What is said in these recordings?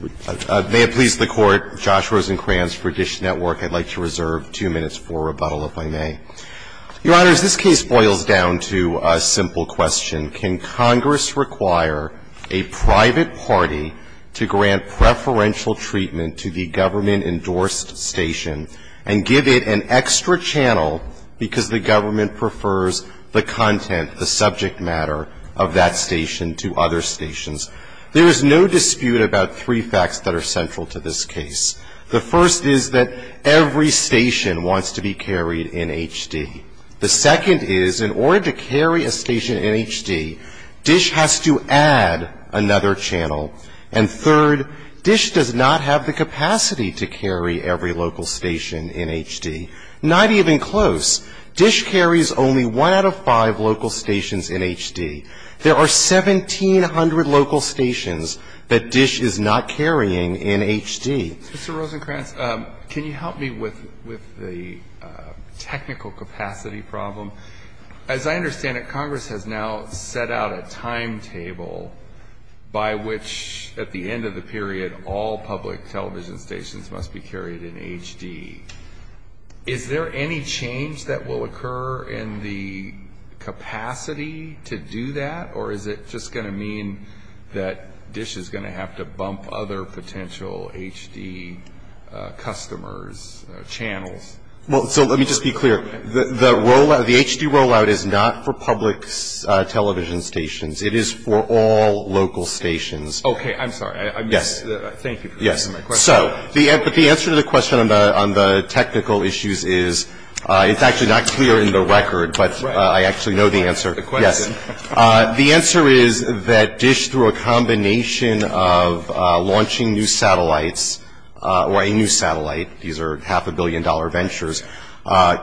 May it please the Court, Josh Rosenkranz for Dish Network. I'd like to reserve two minutes for rebuttal, if I may. Your Honor, as this case boils down to a simple question, can Congress require a private party to grant preferential treatment to the government-endorsed station and give it an extra channel because the government prefers the content, the subject matter, of that station to other stations? There is no dispute about three facts that are central to this case. The first is that every station wants to be carried in HD. The second is, in order to carry a station in HD, Dish has to add another channel. And third, Dish does not have the capacity to carry every local station in HD. Not even close. Dish carries only one out of five local stations in HD. There are 1,700 local stations that Dish is not carrying in HD. Mr. Rosenkranz, can you help me with the technical capacity problem? As I understand it, Congress has now set out a timetable by which, at the end of the period, all public television stations must be carried in HD. Is there any change that will occur in the capacity to do that? Or is it just going to mean that Dish is going to have to bump other potential HD customers' channels? Well, so let me just be clear. The HD rollout is not for public television stations. It is for all local stations. Okay. I'm sorry. Thank you for answering my question. So the answer to the question on the technical issues is, it's actually not clear in the record, but I actually know the answer. Yes. The answer is that Dish, through a combination of launching new satellites, or a new satellite, these are half-a-billion-dollar ventures,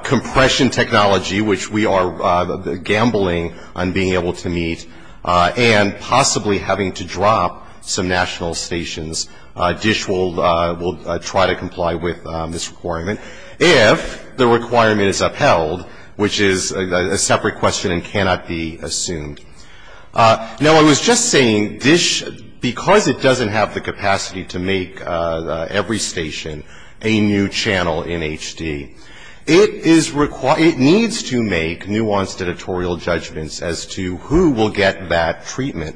compression technology, which we are gambling on being able to meet, and possibly having to drop some national stations, Dish will try to comply with this requirement, if the requirement is upheld, which is a separate question and cannot be assumed. Now, I was just saying, Dish, because it doesn't have the capacity to make every station a new channel in HD, it needs to make nuanced editorial judgments as to who will get that treatment.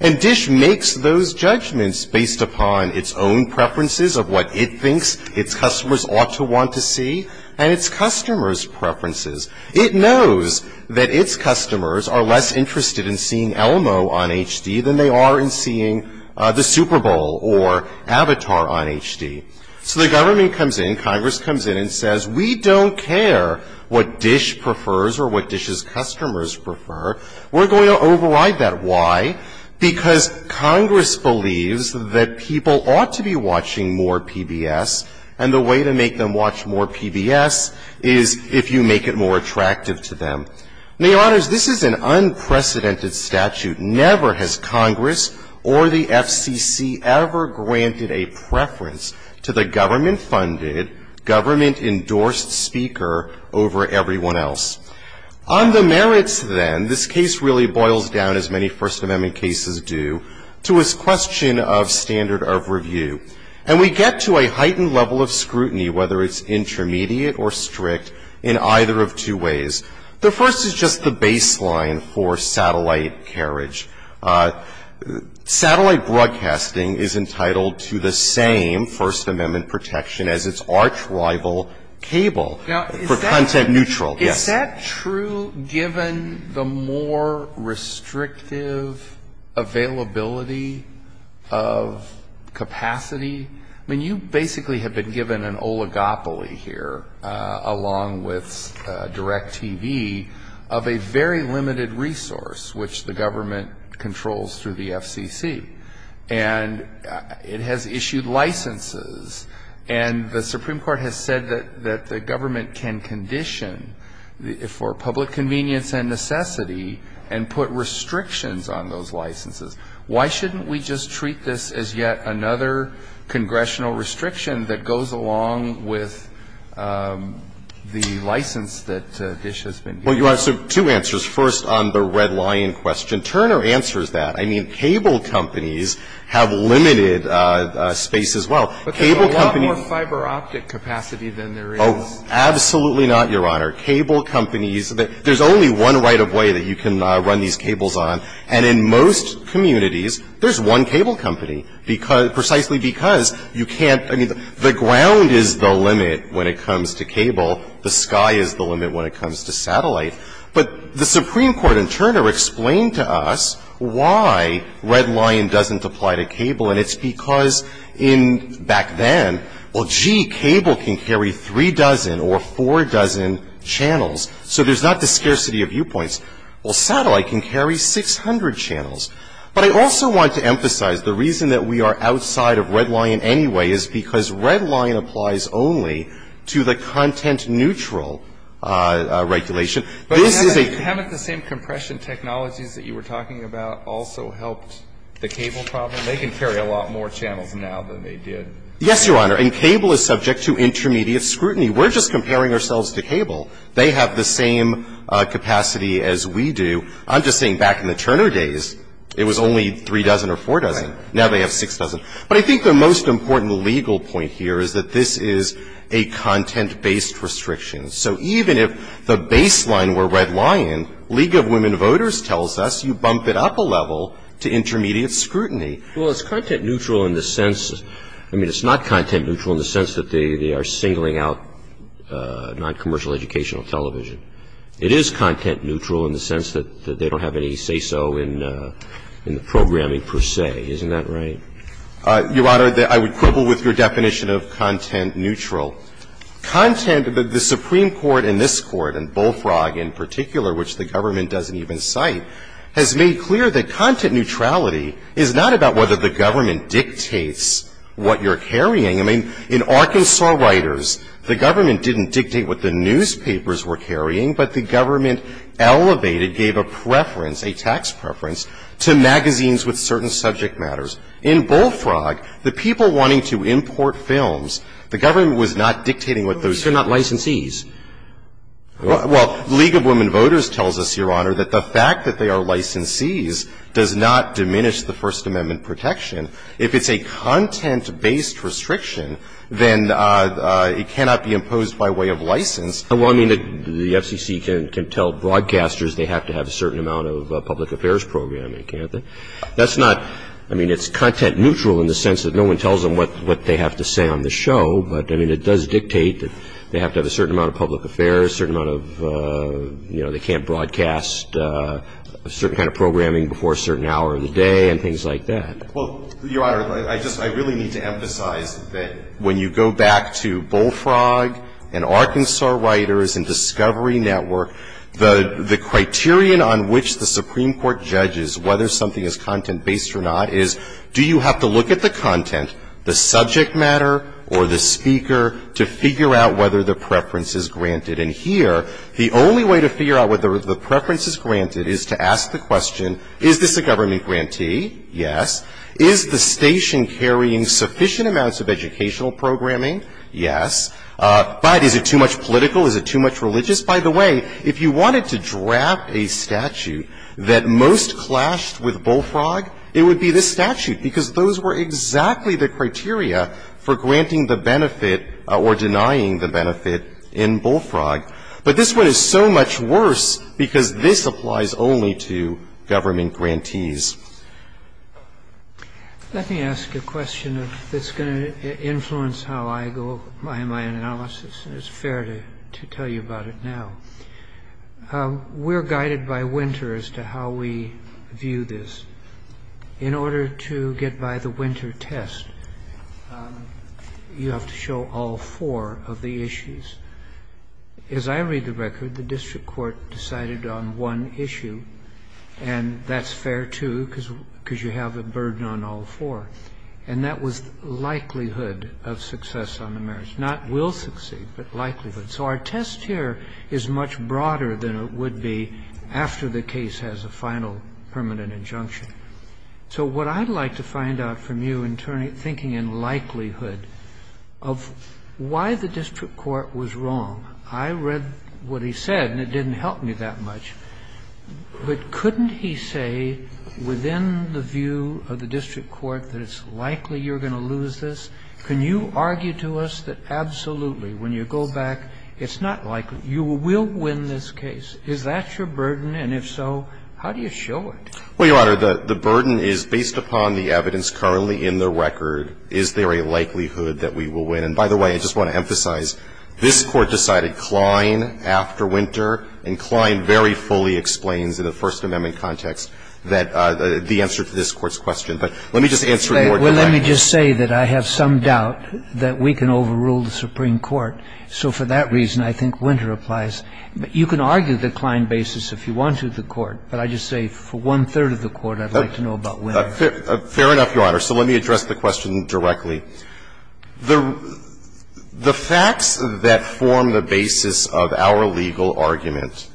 And Dish makes those judgments based upon its own preferences of what it thinks its customers ought to want to see, and its customers' preferences. It knows that its customers are less interested in seeing Elmo on HD than they are in seeing the Super Bowl or Avatar on HD. So the government comes in, Congress comes in, and says, we don't care what Dish prefers or what Dish's customers prefer. We're going to override that. Why? Because Congress believes that people ought to be watching more PBS, and the way to make them watch more PBS is if you make it more attractive to them. Now, Your Honors, this is an unprecedented statute. Never has Congress or the FCC ever granted a preference to the government-funded, government-endorsed speaker over everyone else. On the merits, then, this case really boils down, as many First Amendment cases do, to its question of standard of review. And we get to a heightened level of scrutiny, whether it's intermediate or strict, in either of two ways. The first is just the baseline for satellite carriage. Satellite broadcasting is entitled to the same First Amendment protection as its arch-rival cable for content neutral. Is that true, given the more restrictive availability of capacity? I mean, you basically have been given an oligopoly here, along with DirecTV, of a very limited resource, which the government controls through the FCC. And it has issued licenses. And the Supreme Court has said that the government can condition, for public convenience and necessity, and put restrictions on those licenses. Why shouldn't we just treat this as yet another congressional restriction that goes along with the license that Dish has been given? Well, Your Honor, so two answers. First, on the red lion question, Turner answers that. I mean, cable companies have limited space as well. Cable companies But there's a lot more fiber optic capacity than there is. Oh, absolutely not, Your Honor. Cable companies, there's only one right-of-way that you can run these cables on. And in most communities, there's one cable company, precisely because you can't – I mean, the ground is the limit when it comes to cable. The sky is the limit when it comes to satellite. But the Supreme Court in Turner explained to us why red lion doesn't apply to cable, and it's because in – back then, well, gee, cable can carry three dozen or four dozen channels, so there's not the scarcity of viewpoints. Well, satellite can carry 600 channels. But I also want to emphasize the reason that we are outside of red lion anyway is because red lion applies only to the content-neutral regulation. This is a – But haven't the same compression technologies that you were talking about also helped the cable problem? They can carry a lot more channels now than they did. Yes, Your Honor. And cable is subject to intermediate scrutiny. We're just comparing ourselves to cable. They have the same capacity as we do. I'm just saying back in the Turner days, it was only three dozen or four dozen. Now they have six dozen. But I think the most important legal point here is that this is a content-based restriction. So even if the baseline were red lion, League of Women Voters tells us you bump it up a level to intermediate scrutiny. Well, it's content-neutral in the sense – I mean, it's not content-neutral in the sense that they are singling out non-commercial educational television. It is content-neutral in the sense that they don't have any say-so in the programming per se. Isn't that right? Your Honor, I would quibble with your definition of content-neutral. Content, the Supreme Court and this Court, and Bullfrog in particular, which the government doesn't even cite, has made clear that content neutrality is not about whether the government dictates what you're carrying. I mean, in Arkansas Writers, the government didn't dictate what the newspapers were carrying, but the government elevated, gave a preference, a tax preference, to magazines with certain subject matters. In Bullfrog, the people wanting to import films, the government was not dictating what those were. But they're not licensees. Well, League of Women Voters tells us, Your Honor, that the fact that they are licensees does not diminish the First Amendment protection. If it's a content-based restriction, then it cannot be imposed by way of license. Well, I mean, the FCC can tell broadcasters they have to have a certain amount of public affairs programming, can't they? That's not, I mean, it's content-neutral in the sense that no one tells them what they have to say on the show, but, I mean, it does dictate that they have to have a certain amount of public affairs, a certain amount of, you know, they can't broadcast a certain kind of programming before a certain hour of the day and things like that. Well, Your Honor, I just, I really need to emphasize that when you go back to Bullfrog and Arkansas Writers and Discovery Network, the criterion on which the Supreme Court judges whether something is content-based or not is, do you have to look at the content, the subject matter, or the speaker, to figure out whether the preference is granted? And here, the only way to figure out whether the preference is granted is to ask the question, is this a government grantee? Yes. Is the station carrying sufficient amounts of educational programming? Yes. But is it too much political? Is it too much religious? By the way, if you wanted to draft a statute that most clashed with Bullfrog, it would be this statute, because those were exactly the criteria for granting the benefit or denying the benefit in Bullfrog. But this one is so much worse because this applies only to government grantees. Let me ask a question that's going to influence how I go in my analysis, and it's fair to tell you about it now. We're guided by winter as to how we view this. In order to get by the winter test, you have to show all four of the issues. As I read the record, the district court decided on one issue, and that's fair, too, because you have a burden on all four, and that was likelihood of success on the merits. Not will succeed, but likelihood. So our test here is much broader than it would be after the case has a final permanent injunction. So what I'd like to find out from you in thinking in likelihood of why the district court was wrong, I read what he said, and it didn't help me that much, but couldn't he say within the view of the district court that it's likely you're going to lose this? Can you argue to us that absolutely, when you go back, it's not likely. You will win this case. Is that your burden? And if so, how do you show it? Well, Your Honor, the burden is based upon the evidence currently in the record. Is there a likelihood that we will win? And by the way, I just want to emphasize, this Court decided Klein after winter, and Klein very fully explains in the First Amendment context that the answer to this Court's question. But let me just answer it more directly. Well, let me just say that I have some doubt that we can overrule the Supreme Court. So for that reason, I think winter applies. But you can argue the Klein basis if you want to, the Court, but I'd just say for one-third of the Court, I'd like to know about winter. Fair enough, Your Honor. So let me address the question directly. The facts that form the basis of our legal argument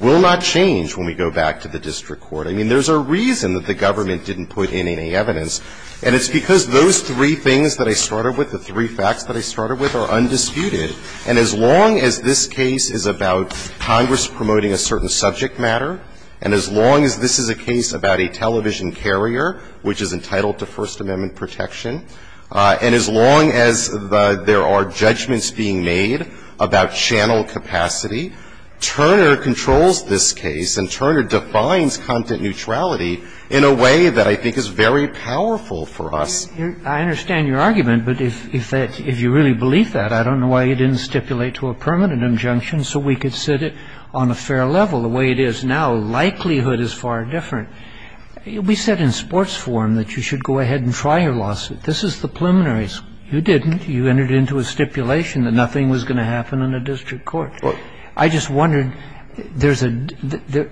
will not change when we go back to the district court. I mean, there's a reason that the government didn't put in any evidence, and it's because those three things that I started with, the three facts that I started with, are undisputed. And as long as this case is about Congress promoting a certain subject matter, and as long as this is a case about a television carrier which is entitled to First Amendment rights, and as long as there are judgments being made about channel capacity, Turner controls this case, and Turner defines content neutrality in a way that I think is very powerful for us. I understand your argument, but if you really believe that, I don't know why you didn't stipulate to a permanent injunction so we could sit it on a fair level the way it is now. Likelihood is far different. We said in sports forum that you should go ahead and try your lawsuit. This is the preliminaries. You didn't. You entered into a stipulation that nothing was going to happen in a district court. I just wondered, there's a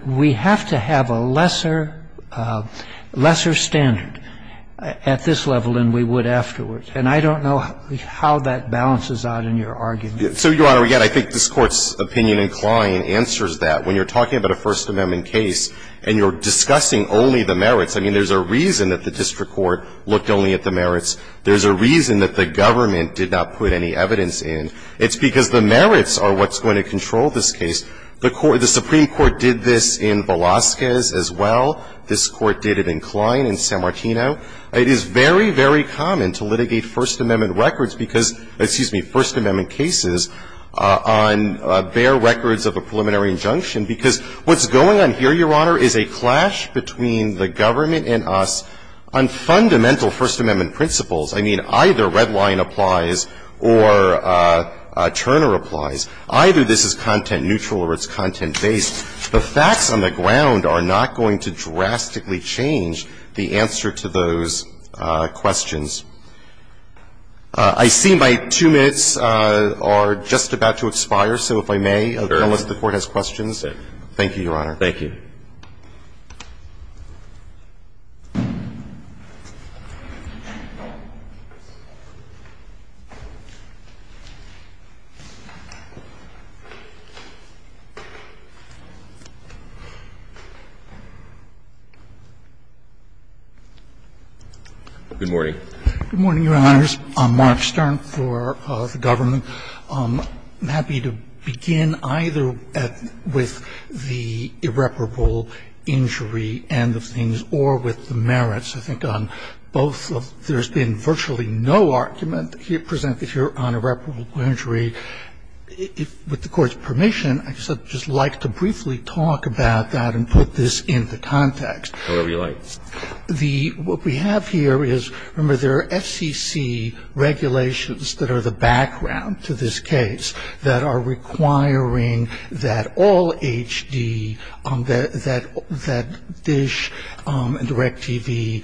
— we have to have a lesser — lesser standard at this level than we would afterwards, and I don't know how that balances out in your argument. So, Your Honor, again, I think this Court's opinion in Kline answers that. When you're talking about a First Amendment case and you're discussing only the merits, I mean, there's a reason that the district court looked only at the merits. There's a reason that the government did not put any evidence in. It's because the merits are what's going to control this case. The Supreme Court did this in Velazquez as well. This Court did it in Kline, in San Martino. It is very, very common to litigate First Amendment records because — excuse me, First Amendment cases on bare records of a preliminary injunction because what's going on here, Your Honor, is a clash between the government and us on fundamental First Amendment principles. I mean, either Redline applies or Turner applies. Either this is content-neutral or it's content-based. The facts on the ground are not going to drastically change the answer to those questions. I see my two minutes are just about to expire, so if I may, unless the Court has questions. Thank you, Your Honor. Thank you. Good morning. Good morning, Your Honors. I'm Mark Stern for the government. I'm happy to begin either with the irreparable injury end of things or with the merits. I think on both, there's been virtually no argument presented here on irreparable injury. With the Court's permission, I'd just like to briefly talk about that and put this into context. Whatever you like. What we have here is, remember, there are FCC regulations that are the background to this case that are requiring that all HD, that DISH and DirecTV,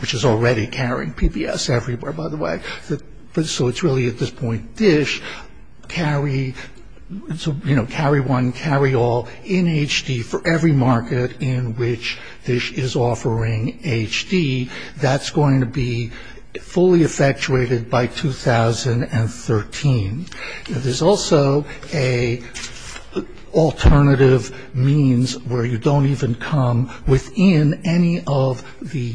which is already carrying PBS everywhere, by the way, so it's really, at this point, DISH, carry one, carry all in HD for every market in which DISH is offering HD. That's going to be fully effectuated by 2013. There's also an alternative means where you don't even come within any of the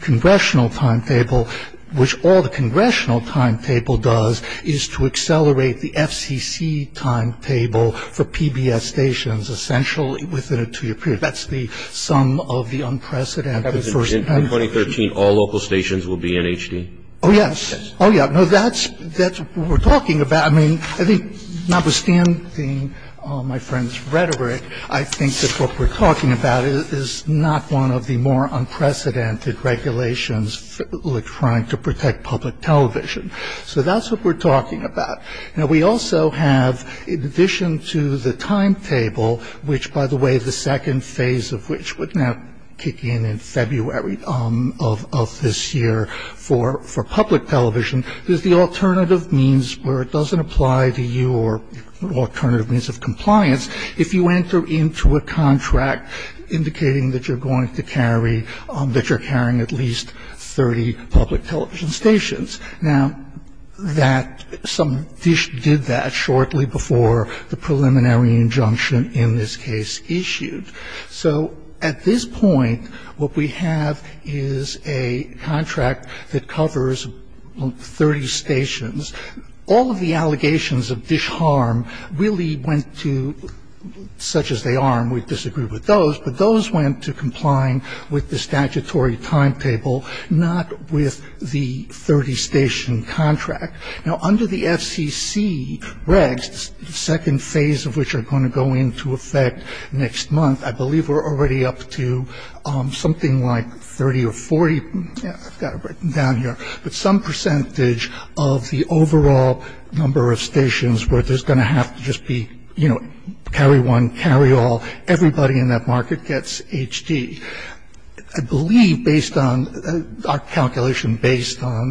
congressional timetable, which all the congressional timetable does is to accelerate the FCC timetable for PBS stations essentially within a two-year period. That's the sum of the unprecedented first time. In 2013, all local stations will be in HD? Oh, yes. Oh, yeah. No, that's what we're talking about. I mean, I think notwithstanding my friend's rhetoric, I think that what we're talking about is not one of the more unprecedented regulations trying to protect public television. So that's what we're talking about. Now, we also have, in addition to the timetable, which, by the way, the second phase of which would now kick in in February of this year for public television, is the alternative means where it doesn't apply to your alternative means of compliance if you enter into a contract indicating that you're going to carry, that you're carrying at least 30 public television stations. Now, that some dish did that shortly before the preliminary injunction in this case issued. So at this point, what we have is a contract that covers 30 stations. All of the allegations of dish harm really went to such as they are, and we disagree with those, but those went to complying with the statutory timetable, not with the 30-station contract. Now, under the FCC regs, the second phase of which are going to go into effect next month, I believe we're already up to something like 30 or 40. I've got it written down here. But some percentage of the overall number of stations where there's going to have to just be, you know, carry one, carry all, everybody in that market gets HD. I believe based on our calculation based on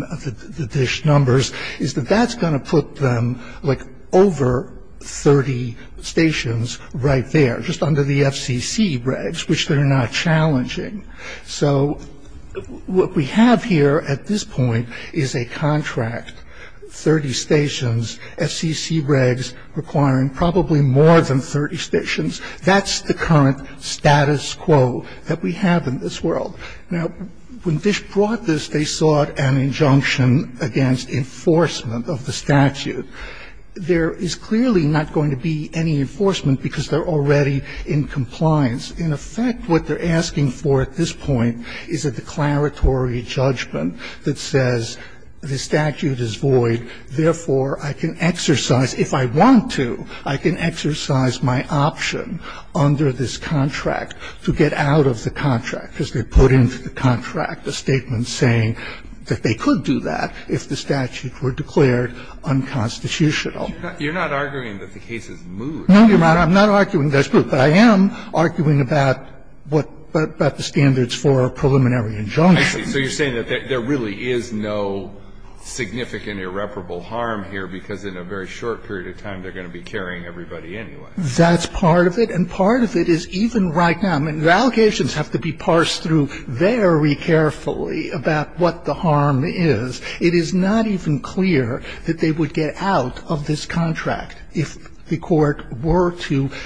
the dish numbers is that that's going to put them like over 30 stations right there, just under the FCC regs, which they're not challenging. So what we have here at this point is a contract, 30 stations, FCC regs requiring probably more than 30 stations. That's the current status quo that we have in this world. Now, when dish brought this, they sought an injunction against enforcement of the statute. There is clearly not going to be any enforcement because they're already in compliance. In effect, what they're asking for at this point is a declaratory judgment that says the statute is void, therefore I can exercise, if I want to, I can exercise my option under this contract to get out of the contract, because they put into the contract a statement saying that they could do that if the statute were declared unconstitutional. Now, I'm not arguing that the case is moot. You're right. I'm not arguing that it's moot. But I am arguing about what the standards for a preliminary injunction. I see. So you're saying that there really is no significant irreparable harm here because in a very short period of time they're going to be carrying everybody anyway. That's part of it. And part of it is even right now. The allegations have to be parsed through very carefully about what the harm is. It is not even clear that they would get out of this contract if the court were to –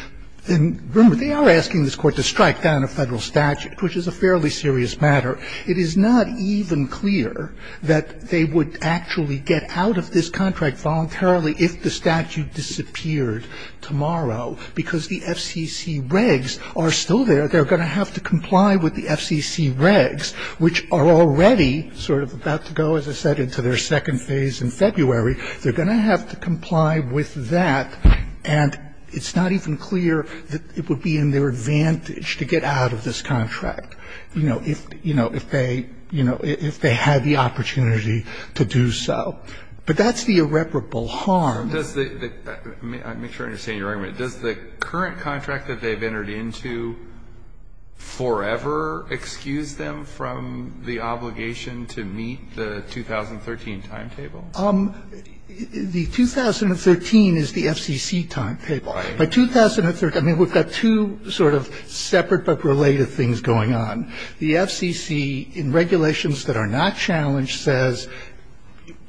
and remember, they are asking this court to strike down a Federal statute, which is a fairly serious matter. It is not even clear that they would actually get out of this contract voluntarily if the statute disappeared tomorrow, because the FCC regs are still there. They're going to have to comply with the FCC regs, which are already sort of about to go, as I said, into their second phase in February. They're going to have to comply with that. And it's not even clear that it would be in their advantage to get out of this contract, you know, if, you know, if they, you know, if they had the opportunity to do so. But that's the irreparable harm. Does the – let me make sure I understand your argument. Does the current contract that they've entered into forever excuse them from the obligation to meet the 2013 timetable? The 2013 is the FCC timetable. By 2013 – I mean, we've got two sort of separate but related things going on. The FCC, in regulations that are not challenged, says,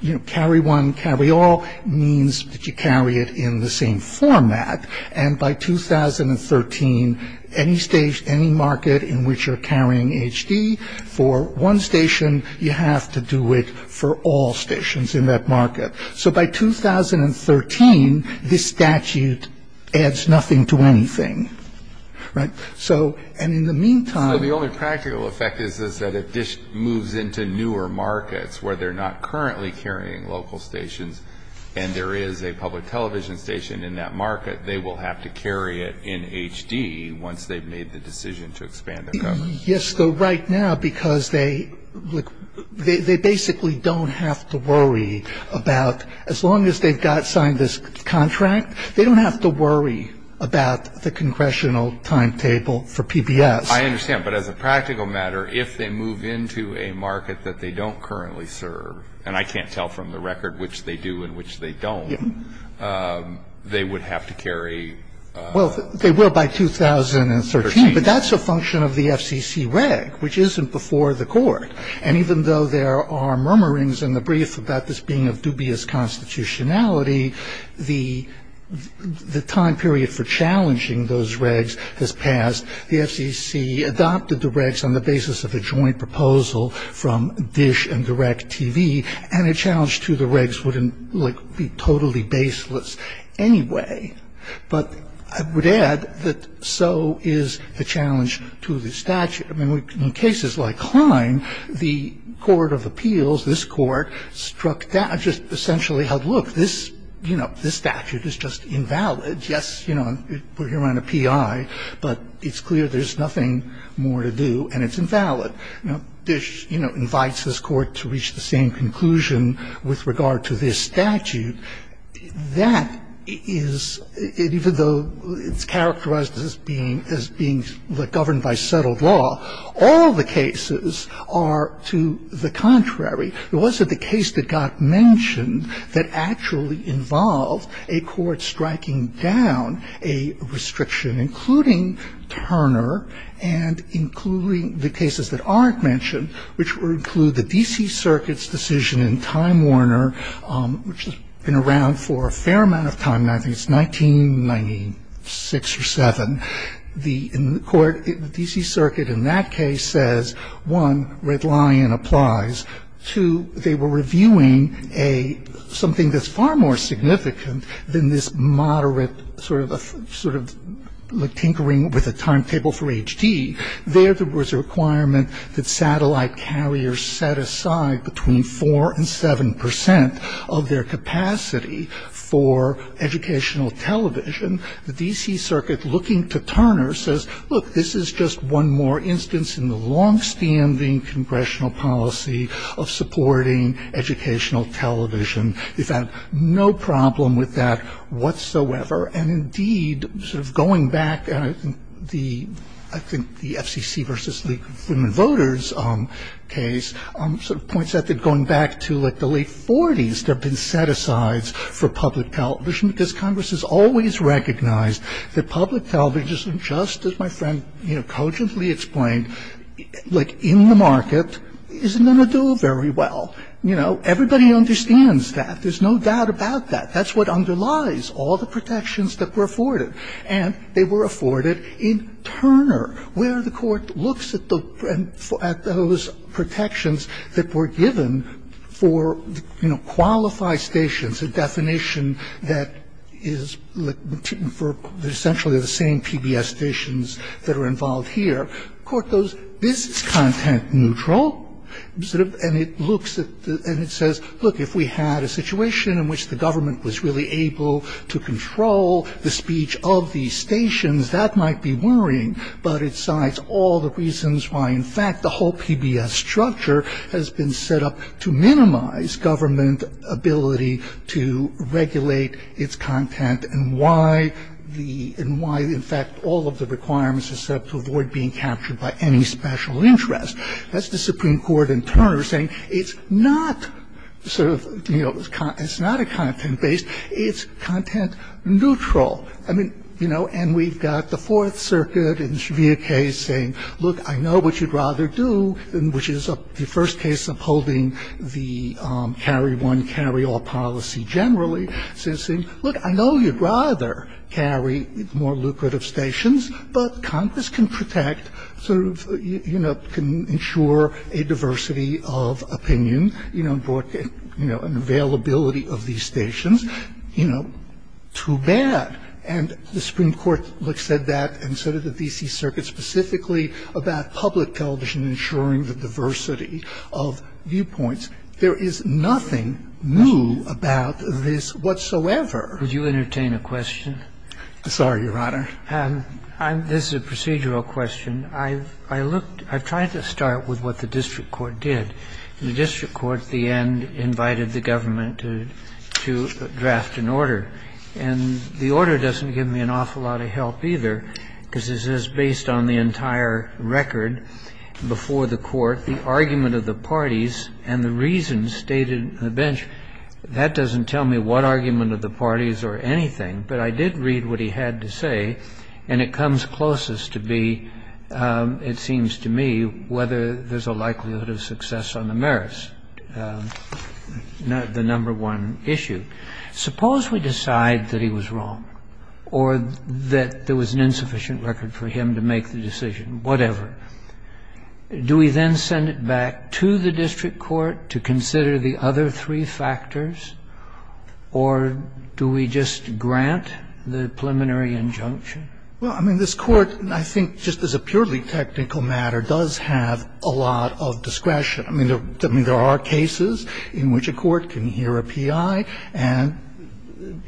you know, carry one, carry all, means that you carry it in the same format. And by 2013, any market in which you're carrying HD for one station, you have to do it for all stations in that market. So by 2013, this statute adds nothing to anything, right? So – and in the meantime – So the only practical effect is that it just moves into newer markets where they're not currently carrying local stations and there is a public television station in that market. They will have to carry it in HD once they've made the decision to expand their coverage. Yes, so right now, because they – look, they basically don't have to worry about – as long as they've got – signed this contract, they don't have to worry about the congressional timetable for PBS. I understand. But as a practical matter, if they move into a market that they don't currently serve, and I can't tell from the record which they do and which they don't, they would have to carry – Well, they will by 2013. But that's a function of the FCC reg, which isn't before the court. And even though there are murmurings in the brief about this being of dubious constitutionality, the time period for challenging those regs has passed. The FCC adopted the regs on the basis of a joint proposal from DISH and DirecTV, and a challenge to the regs would be totally baseless anyway. But I would add that so is the challenge to the statute. I mean, in cases like Klein, the court of appeals, this court, struck down – just essentially held, look, this statute is just invalid. Yes, we're here on a P.I., but it's clear there's nothing more to do, and it's invalid. But DISH invites this court to reach the same conclusion with regard to this statute. That is – even though it's characterized as being governed by settled law, all the cases are to the contrary. It wasn't the case that got mentioned that actually involved a court striking down a restriction, including Turner and including the cases that aren't mentioned, which would include the D.C. Circuit's decision in Time Warner, which has been around for a fair amount of time now. I think it's 1996 or 7. In the court, the D.C. Circuit in that case says, one, Red Lion applies. Two, they were reviewing something that's far more significant than this moderate sort of tinkering with a timetable for H.D. There, there was a requirement that satellite carriers set aside between 4% and 7% of their capacity for educational television. The D.C. Circuit, looking to Turner, says, look, this is just one more instance in the longstanding congressional policy of supporting educational television. They found no problem with that whatsoever. And, indeed, sort of going back, I think the FCC v. League of Women Voters case sort of points out that going back to like the late 40s, there have been set-asides for public television because Congress has always recognized that public television, just as my friend cogently explained, like in the market, isn't going to do very well. You know, everybody understands that. There's no doubt about that. That's what underlies all the protections that were afforded. And they were afforded in Turner, where the court looks at those protections that were given for, you know, qualified stations, a definition that is essentially the same PBS stations that are involved here. The court goes, this is content neutral. And it looks at and it says, look, if we had a situation in which the government was really able to control the speech of these stations, that might be worrying. But it cites all the reasons why, in fact, the whole PBS structure has been set up to minimize government ability to regulate its content and why, in fact, all of the requirements are set up to avoid being captured by any special interest. That's the Supreme Court in Turner saying it's not sort of, you know, it's not a content-based. It's content neutral. I mean, you know, and we've got the Fourth Circuit in severe case saying, look, I know what you'd rather do, which is the first case upholding the carry-one, carry-all policy generally, saying, look, I know you'd rather carry more lucrative stations, but Congress can protect, sort of, you know, can ensure a diversity of opinion, you know, an availability of these stations, you know, too bad. And the Supreme Court said that and so did the D.C. Circuit specifically about public television ensuring the diversity of viewpoints. There is nothing new about this whatsoever. Would you entertain a question? Sorry, Your Honor. This is a procedural question. I've looked, I've tried to start with what the district court did. The district court at the end invited the government to draft an order, and the order doesn't give me an awful lot of help either because it says based on the entire record before the court, the argument of the parties and the reasons stated on the bench, that doesn't tell me what argument of the parties or anything, but I did read what he had to say, and it comes closest to be, it seems to me, whether there's a likelihood of success on the merits, the number one issue. Suppose we decide that he was wrong or that there was an insufficient record for him to make the decision, whatever. Do we then send it back to the district court to consider the other three factors or do we just grant the preliminary injunction? Well, I mean, this Court, I think, just as a purely technical matter, does have a lot of discretion. I mean, there are cases in which a court can hear a P.I. and,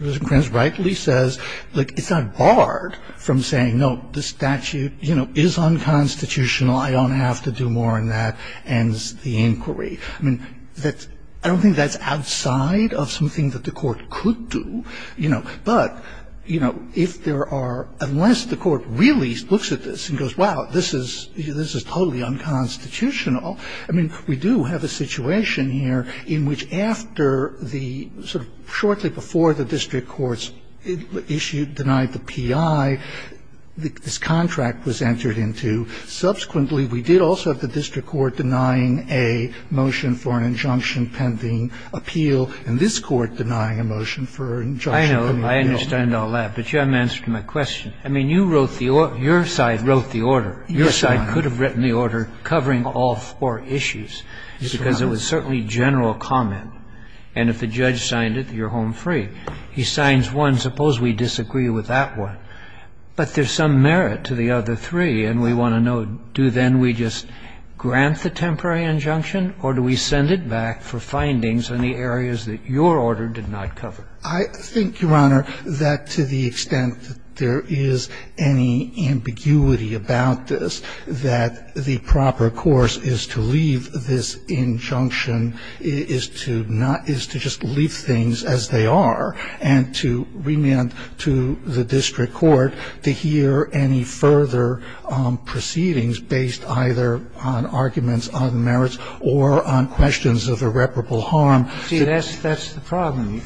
Mr. Kranz rightly says, look, it's not barred from saying, no, the statute, you know, is unconstitutional. I don't have to do more than that, ends the inquiry. I mean, I don't think that's outside of something that the court could do, you know, but, you know, if there are unless the court really looks at this and goes, wow, this is totally unconstitutional. I mean, we do have a situation here in which after the sort of shortly before the district court's issue denied the P.I., this contract was entered into. Subsequently, we did also have the district court denying a motion for an injunction pending appeal and this Court denying a motion for an injunction pending appeal. I know, I understand all that, but you haven't answered my question. I mean, you wrote the order, your side wrote the order. Yes, Your Honor. Your side could have written the order covering all four issues. Yes, Your Honor. Because it was certainly general comment. And if the judge signed it, you're home free. He signs one, suppose we disagree with that one. But there's some merit to the other three, and we want to know, do then we just grant the temporary injunction, or do we send it back for findings on the areas that your order did not cover? I think, Your Honor, that to the extent that there is any ambiguity about this, that the proper course is to leave this injunction, is to not – is to just leave things as they are and to remand to the district court to hear any further proceedings based either on arguments on merits or on questions of irreparable harm. See, that's the problem.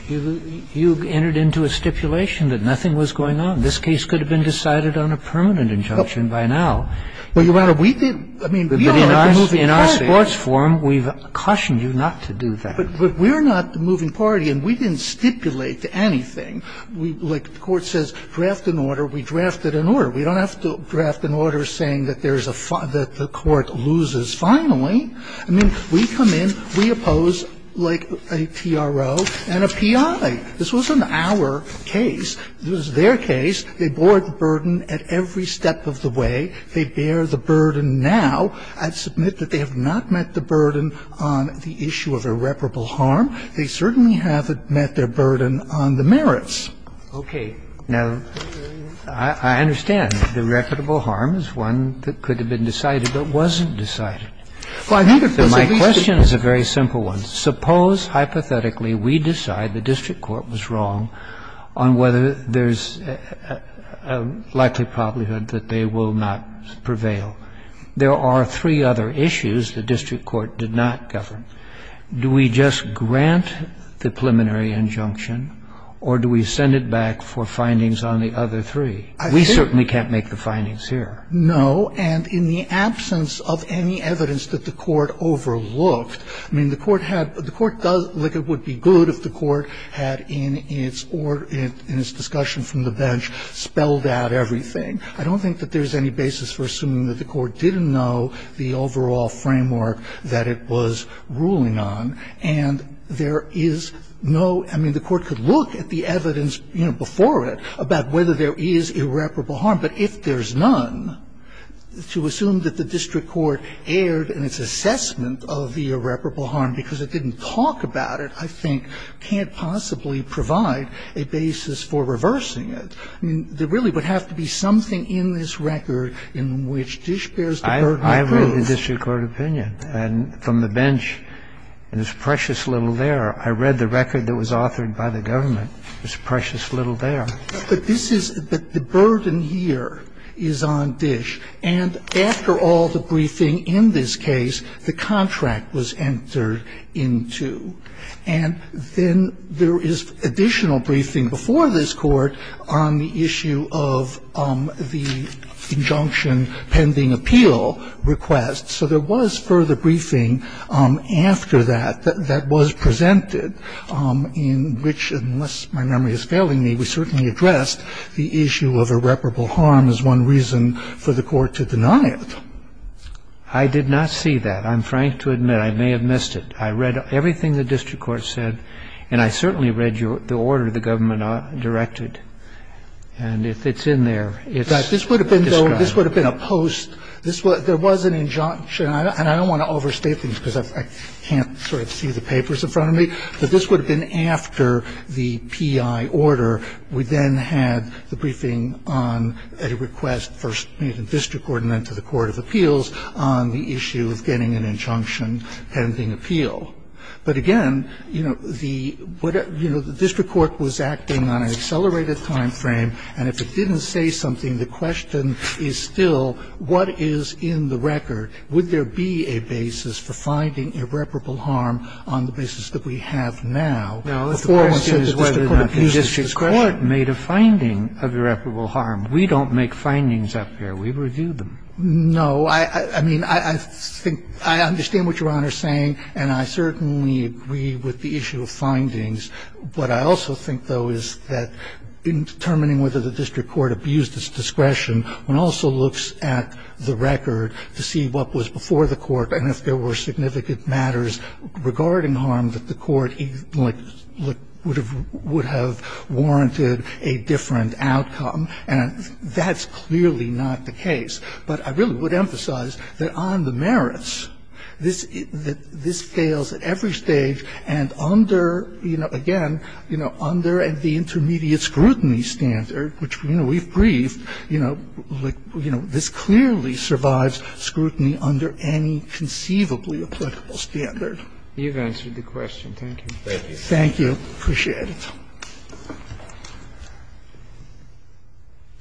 You entered into a stipulation that nothing was going on. This case could have been decided on a permanent injunction by now. Well, Your Honor, we didn't. I mean, we don't have the moving party. In our court's forum, we've cautioned you not to do that. But we're not the moving party, and we didn't stipulate anything. We – like the Court says, draft an order, we drafted an order. We don't have to draft an order saying that there's a – that the Court loses finally. I mean, we come in, we oppose like a TRO and a PI. This wasn't our case. It was their case. They bore the burden at every step of the way. They bear the burden now. I submit that they have not met the burden on the issue of irreparable harm. They certainly haven't met their burden on the merits. Okay. Now, I understand that irreparable harm is one that could have been decided but wasn't decided. Well, I think it was at least a very simple one. Suppose, hypothetically, we decide the district court was wrong on whether there's a likely probability that they will not prevail. There are three other issues the district court did not govern. Do we just grant the preliminary injunction, or do we send it back for findings on the other three? We certainly can't make the findings here. No, and in the absence of any evidence that the Court overlooked, I mean, the Court does, like it would be good if the Court had in its discussion from the bench spelled out everything. I don't think that there's any basis for assuming that the Court didn't know the overall framework that it was ruling on, and there is no – I mean, the Court could look at the evidence, you know, before it about whether there is irreparable harm, but if there's none, to assume that the district court erred in its assessment of the irreparable harm because it didn't talk about it, I think can't possibly provide a basis for reversing it. I mean, there really would have to be something in this record in which Dish bears the burden of proof. I read the district court opinion from the bench, and there's precious little there. I read the record that was authored by the government. There's precious little there. But this is – but the burden here is on Dish. And after all the briefing in this case, the contract was entered into. And then there is additional briefing before this Court on the issue of the injunction pending appeal request. So there was further briefing after that that was presented in which, unless my memory is failing me, we certainly addressed the issue of irreparable harm as one reason for the Court to deny it. I did not see that. I'm frank to admit I may have missed it. I read everything the district court said, and I certainly read the order the government directed. And if it's in there, it's described. This would have been a post. There was an injunction. And I don't want to overstate things because I can't sort of see the papers in front of me, but this would have been after the P.I. Order, we then had the briefing on a request first made in district court and then to the court of appeals on the issue of getting an injunction pending appeal. But again, you know, the – you know, the district court was acting on an accelerated time frame, and if it didn't say something, the question is still what is in the record? Would there be a basis for finding irreparable harm on the basis that we have now? The question is whether or not the district court made a finding of irreparable harm. We don't make findings up here. We review them. No. I mean, I think – I understand what Your Honor is saying, and I certainly agree with the issue of findings. What I also think, though, is that in determining whether the district court abused its discretion, one also looks at the record to see what was before the court and if there were significant matters regarding harm that the court, like, would have warranted a different outcome, and that's clearly not the case. But I really would emphasize that on the merits, this fails at every stage and under – you know, again, you know, under the intermediate scrutiny standard, which, you know, we've briefed, you know, like, you know, this clearly survives scrutiny under any conceivably applicable standard. You've answered the question. Thank you. Thank you. Appreciate it.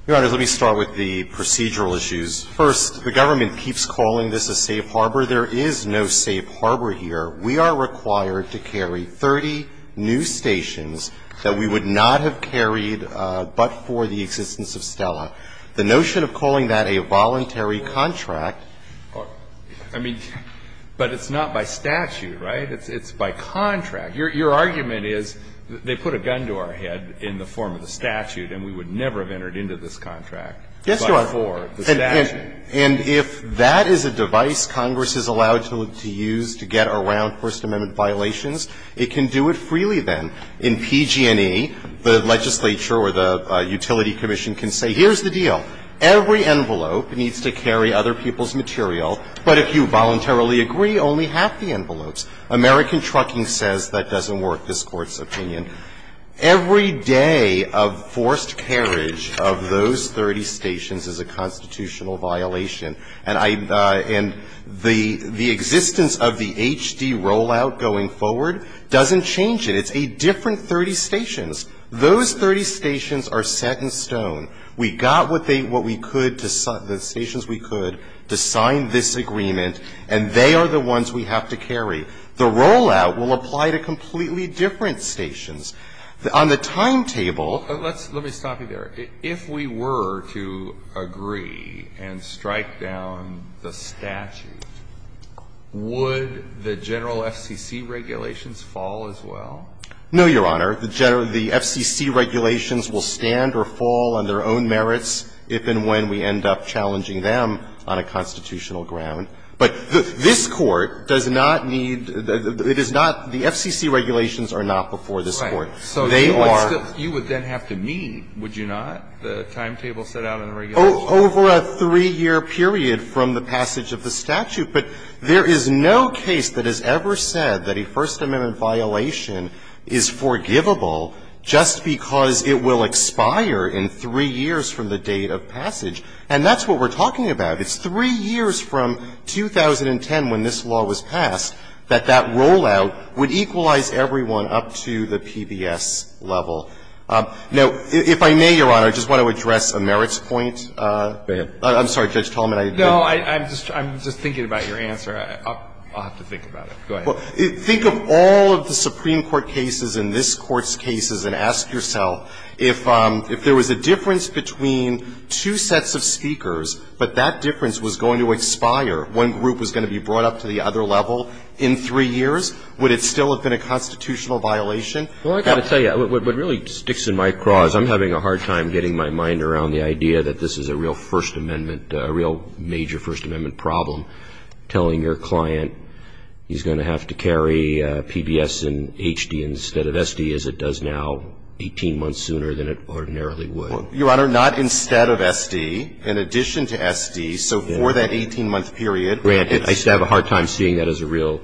Your Honor, let me start with the procedural issues. First, the government keeps calling this a safe harbor. There is no safe harbor here. We are required to carry 30 new stations that we would not have carried but for the existence of STELA. The notion of calling that a voluntary contract or – I mean, but it's not by statute, right? It's by contract. Your argument is they put a gun to our head in the form of the statute and we would never have entered into this contract but for the statute. Yes, Your Honor. And if that is a device Congress is allowed to use to get around First Amendment violations, it can do it freely then. In PG&E, the legislature or the utility commission can say, here's the deal. Every envelope needs to carry other people's material, but if you voluntarily agree, only half the envelopes. American Trucking says that doesn't work, this Court's opinion. Every day of forced carriage of those 30 stations is a constitutional violation. And I – and the existence of the HD rollout going forward doesn't change it. It's a different 30 stations. Those 30 stations are set in stone. We got what they – what we could to – the stations we could to sign this agreement and they are the ones we have to carry. The rollout will apply to completely different stations. On the timetable – Let's – let me stop you there. If we were to agree and strike down the statute, would the general FCC regulations fall as well? No, Your Honor. The FCC regulations will stand or fall on their own merits if and when we end up challenging them on a constitutional ground. But this Court does not need – it is not – the FCC regulations are not before this Court. Right. So they are – You would then have to meet, would you not? The timetable set out in the regulation. Over a three-year period from the passage of the statute. But there is no case that has ever said that a First Amendment violation is forgivable just because it will expire in three years from the date of passage. And that's what we're talking about. It's three years from 2010, when this law was passed, that that rollout would equalize everyone up to the PBS level. Now, if I may, Your Honor, I just want to address a merits point. I'm sorry, Judge Tallman. No, I'm just – I'm just thinking about your answer. I'll have to think about it. Go ahead. Think of all of the Supreme Court cases and this Court's cases and ask yourself if there was a difference between two sets of speakers, but that difference was going to expire when group was going to be brought up to the other level in three years, would it still have been a constitutional violation? Well, I've got to tell you, what really sticks in my craw is I'm having a hard time getting my mind around the idea that this is a real First Amendment, a real major First Amendment problem, telling your client he's going to have to carry PBS and HD instead of SD as it does now 18 months sooner than it ordinarily would. Well, Your Honor, not instead of SD. In addition to SD, so for that 18-month period. Grant, I just have a hard time seeing that as a real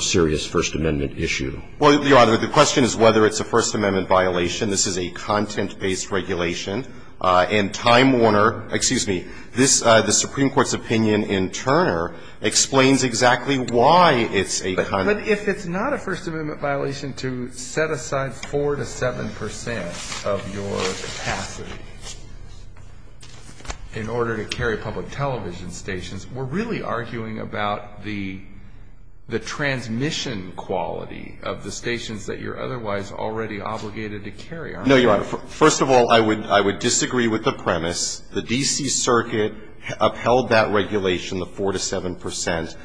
serious First Amendment issue. Well, Your Honor, the question is whether it's a First Amendment violation. This is a content-based regulation. And Time Warner, excuse me, this, the Supreme Court's opinion in Turner explains exactly why it's a content. But if it's not a First Amendment violation to set aside 4 to 7 percent of your capacity in order to carry public television stations, we're really arguing about the transmission quality of the stations that you're otherwise already obligated to carry, aren't we? No, Your Honor. First of all, I would disagree with the premise. The D.C. Circuit upheld that regulation, the 4 to 7 percent,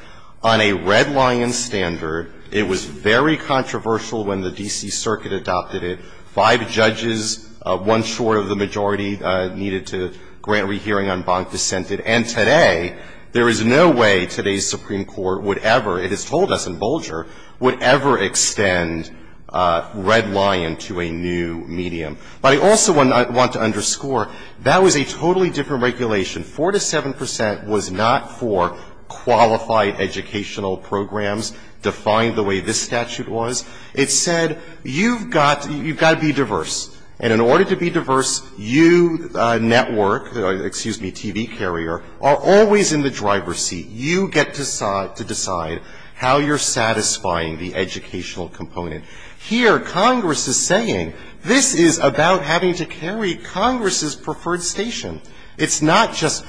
on a red-lion standard. It was very controversial when the D.C. Circuit adopted it. Five judges, one short of the majority, needed to grant rehearing on bonk dissented. And today, there is no way today's Supreme Court would ever, it is told us in Bolger, would ever extend red-lion to a new medium. But I also want to underscore, that was a totally different regulation. 4 to 7 percent was not for qualified educational programs defined the way this statute was. It said you've got to be diverse. And in order to be diverse, you network, excuse me, TV carrier, are always in the driver's seat. You get to decide how you're satisfying the educational component. Here, Congress is saying this is about having to carry Congress's preferred station. It's not just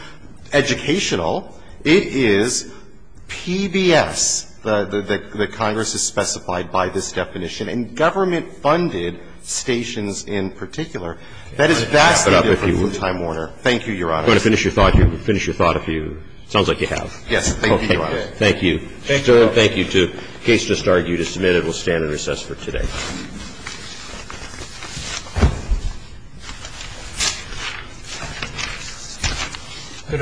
educational. It is PBS that Congress has specified by this definition. And government-funded stations in particular, that is vastly different from Time Warner. Thank you, Your Honor. Roberts. You want to finish your thought here? Finish your thought if you, sounds like you have. Yes. Thank you, Your Honor. Thank you. Thank you. Thank you, too. The case just argued is submitted. We'll stand in recess for today. Good argument. All rise. The case is submitted.